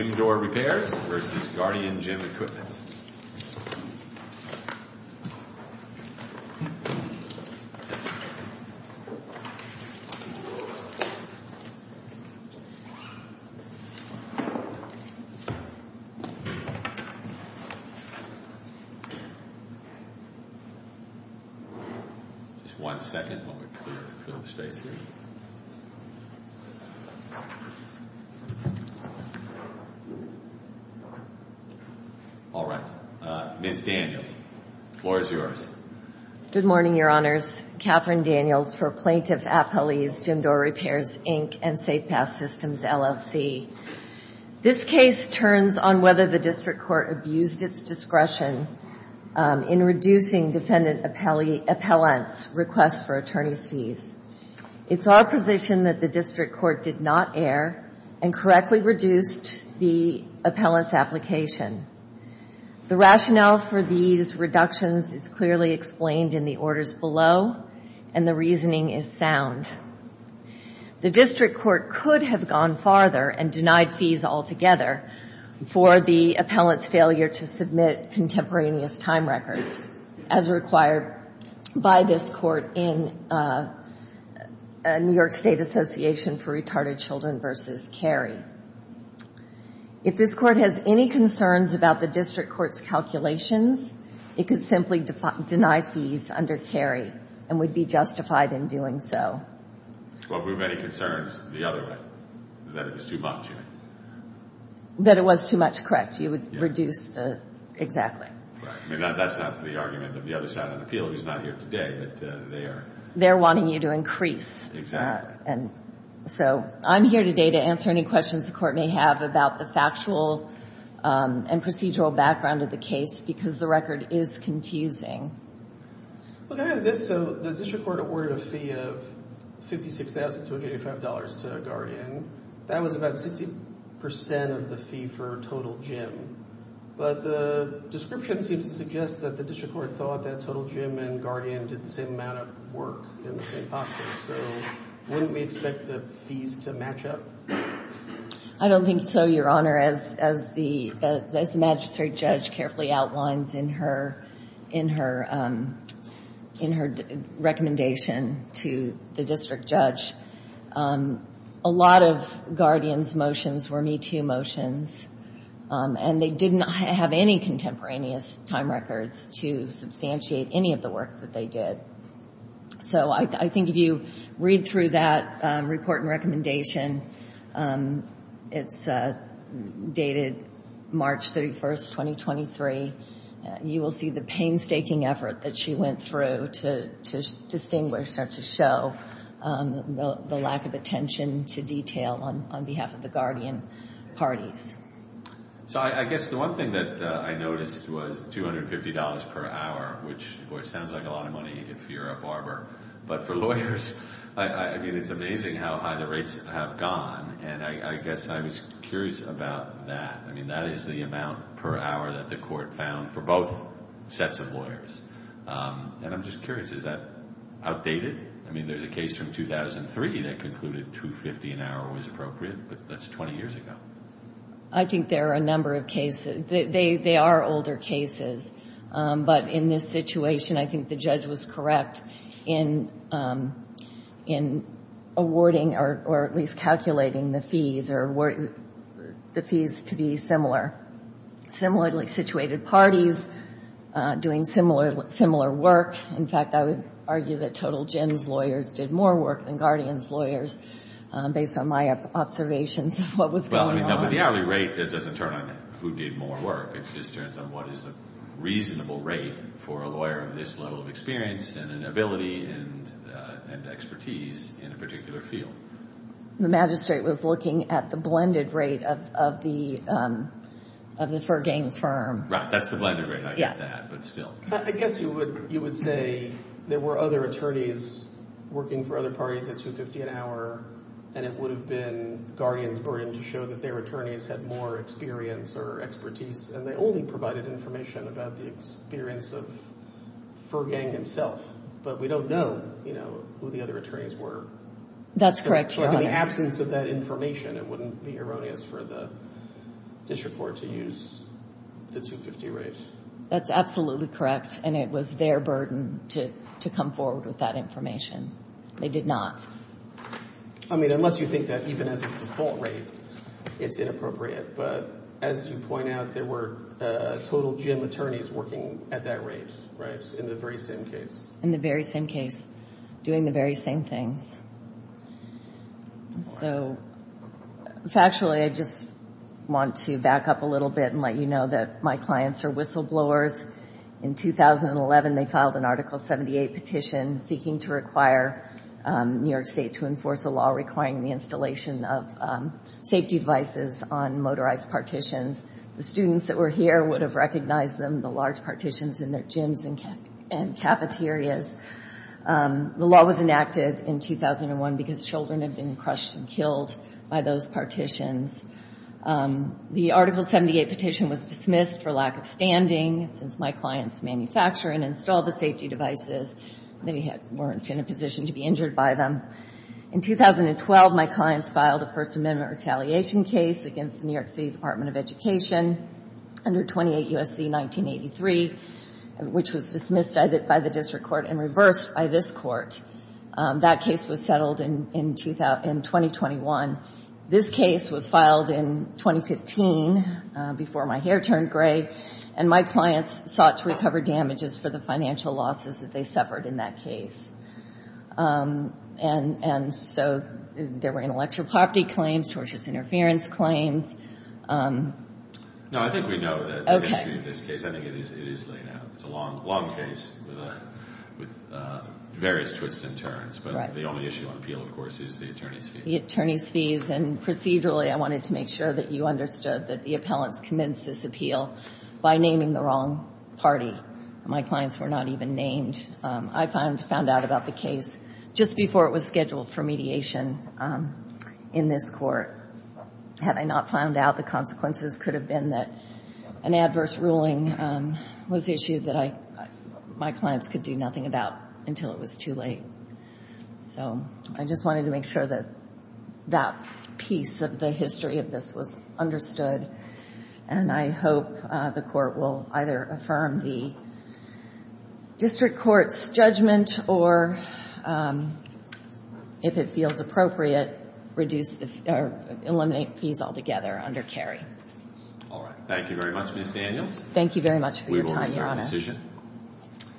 Just one second while we clear the space here. Ms. Daniels, the floor is yours. Good morning, Your Honors. Katherine Daniels for Plaintiff Appellees, Gym Door Repairs, Inc. and Safe Pass Systems, LLC. This case turns on whether the district court abused its discretion in reducing defendant appellant's request for attorney's fees. It's our position that the district court did not err and correctly reduced the appellant's application. The rationale for these reductions is clearly explained in the orders below, and the reasoning is sound. The district court could have gone farther and denied fees altogether for the appellant's failure to submit contemporaneous time records, as required by this court in New York State Association for Retarded Children v. Carey. If this court has any concerns about the district court's calculations, it could simply deny fees under Carey and would be justified in doing so. Well, if we have any concerns, the other way, that it was too much. That it was too much, correct. You would reduce the, exactly. That's not the argument of the other side of the appeal. He's not here today, but they are. They're wanting you to increase. Exactly. I'm here today to answer any questions the court may have about the factual and procedural background of the case, because the record is confusing. The district court awarded a fee of $56,285 to a guardian. That was about 60% of the fee for total Jim. But the description seems to suggest that the district court thought that total Jim and guardian did the same amount of work in the same office. So wouldn't we expect the fees to match up? I don't think so, Your Honor. As the magistrate judge carefully outlines in her recommendation to the district judge, a lot of guardians' motions were Me Too motions. And they did not have any contemporaneous time records to substantiate any of the work that they did. So I think if you read through that report and recommendation, it's dated March 31, 2023. You will see the painstaking effort that she went through to distinguish or to show the lack of attention to detail on behalf of the guardian parties. So I guess the one thing that I noticed was $250 per hour, which sounds like a lot of money if you're a barber. But for lawyers, I mean, it's amazing how high the rates have gone. And I guess I was curious about that. I mean, that is the amount per hour that the court found for both sets of lawyers. And I'm just curious, is that outdated? I mean, there's a case from 2003 that concluded $250 an hour was appropriate, but that's 20 years ago. I think there are a number of cases. They are older cases. But in this situation, I think the judge was correct in awarding or at least calculating the fees to be similar. Similarly situated parties doing similar work. In fact, I would argue that Total Gems lawyers did more work than guardians' lawyers based on my observations of what was going on. But the hourly rate doesn't turn on who did more work. It just turns on what is a reasonable rate for a lawyer of this level of experience and ability and expertise in a particular field. The magistrate was looking at the blended rate of the fur game firm. Right. That's the blended rate. I get that, but still. I guess you would say there were other attorneys working for other parties at $250 an hour, and it would have been guardians' burden to show that their attorneys had more experience or expertise. And they only provided information about the experience of fur gang himself. But we don't know who the other attorneys were. That's correct, Your Honor. In the absence of that information, it wouldn't be erroneous for the district court to use the $250 rate. That's absolutely correct, and it was their burden to come forward with that information. They did not. I mean, unless you think that even as a default rate, it's inappropriate. But as you point out, there were total gem attorneys working at that rate, right, in the very same case. In the very same case, doing the very same things. So factually, I just want to back up a little bit and let you know that my clients are whistleblowers. In 2011, they filed an Article 78 petition seeking to require New York State to enforce a law requiring the installation of safety devices on motorized partitions. The students that were here would have recognized them, the large partitions in their gyms and cafeterias. The law was enacted in 2001 because children had been crushed and killed by those partitions. The Article 78 petition was dismissed for lack of standing. Since my clients manufacture and install the safety devices, they weren't in a position to be injured by them. In 2012, my clients filed a First Amendment retaliation case against the New York City Department of Education under 28 U.S.C. 1983, which was dismissed by the district court and reversed by this court. That case was settled in 2021. This case was filed in 2015 before my hair turned gray, and my clients sought to recover damages for the financial losses that they suffered in that case. And so there were intellectual property claims, tortious interference claims. No, I think we know that the history of this case, I think it is laid out. It's a long case with various twists and turns, but the only issue on appeal, of course, is the attorney's case. And procedurally, I wanted to make sure that you understood that the appellants commenced this appeal by naming the wrong party. My clients were not even named. I found out about the case just before it was scheduled for mediation in this court. Had I not found out, the consequences could have been that an adverse ruling was issued that my clients could do nothing about until it was too late. So I just wanted to make sure that that piece of the history of this was understood, and I hope the court will either affirm the district court's judgment or, if it feels appropriate, eliminate fees altogether under Cary. All right. Thank you very much, Ms. Daniels. Thank you very much for your time, Your Honor. We will resume decision.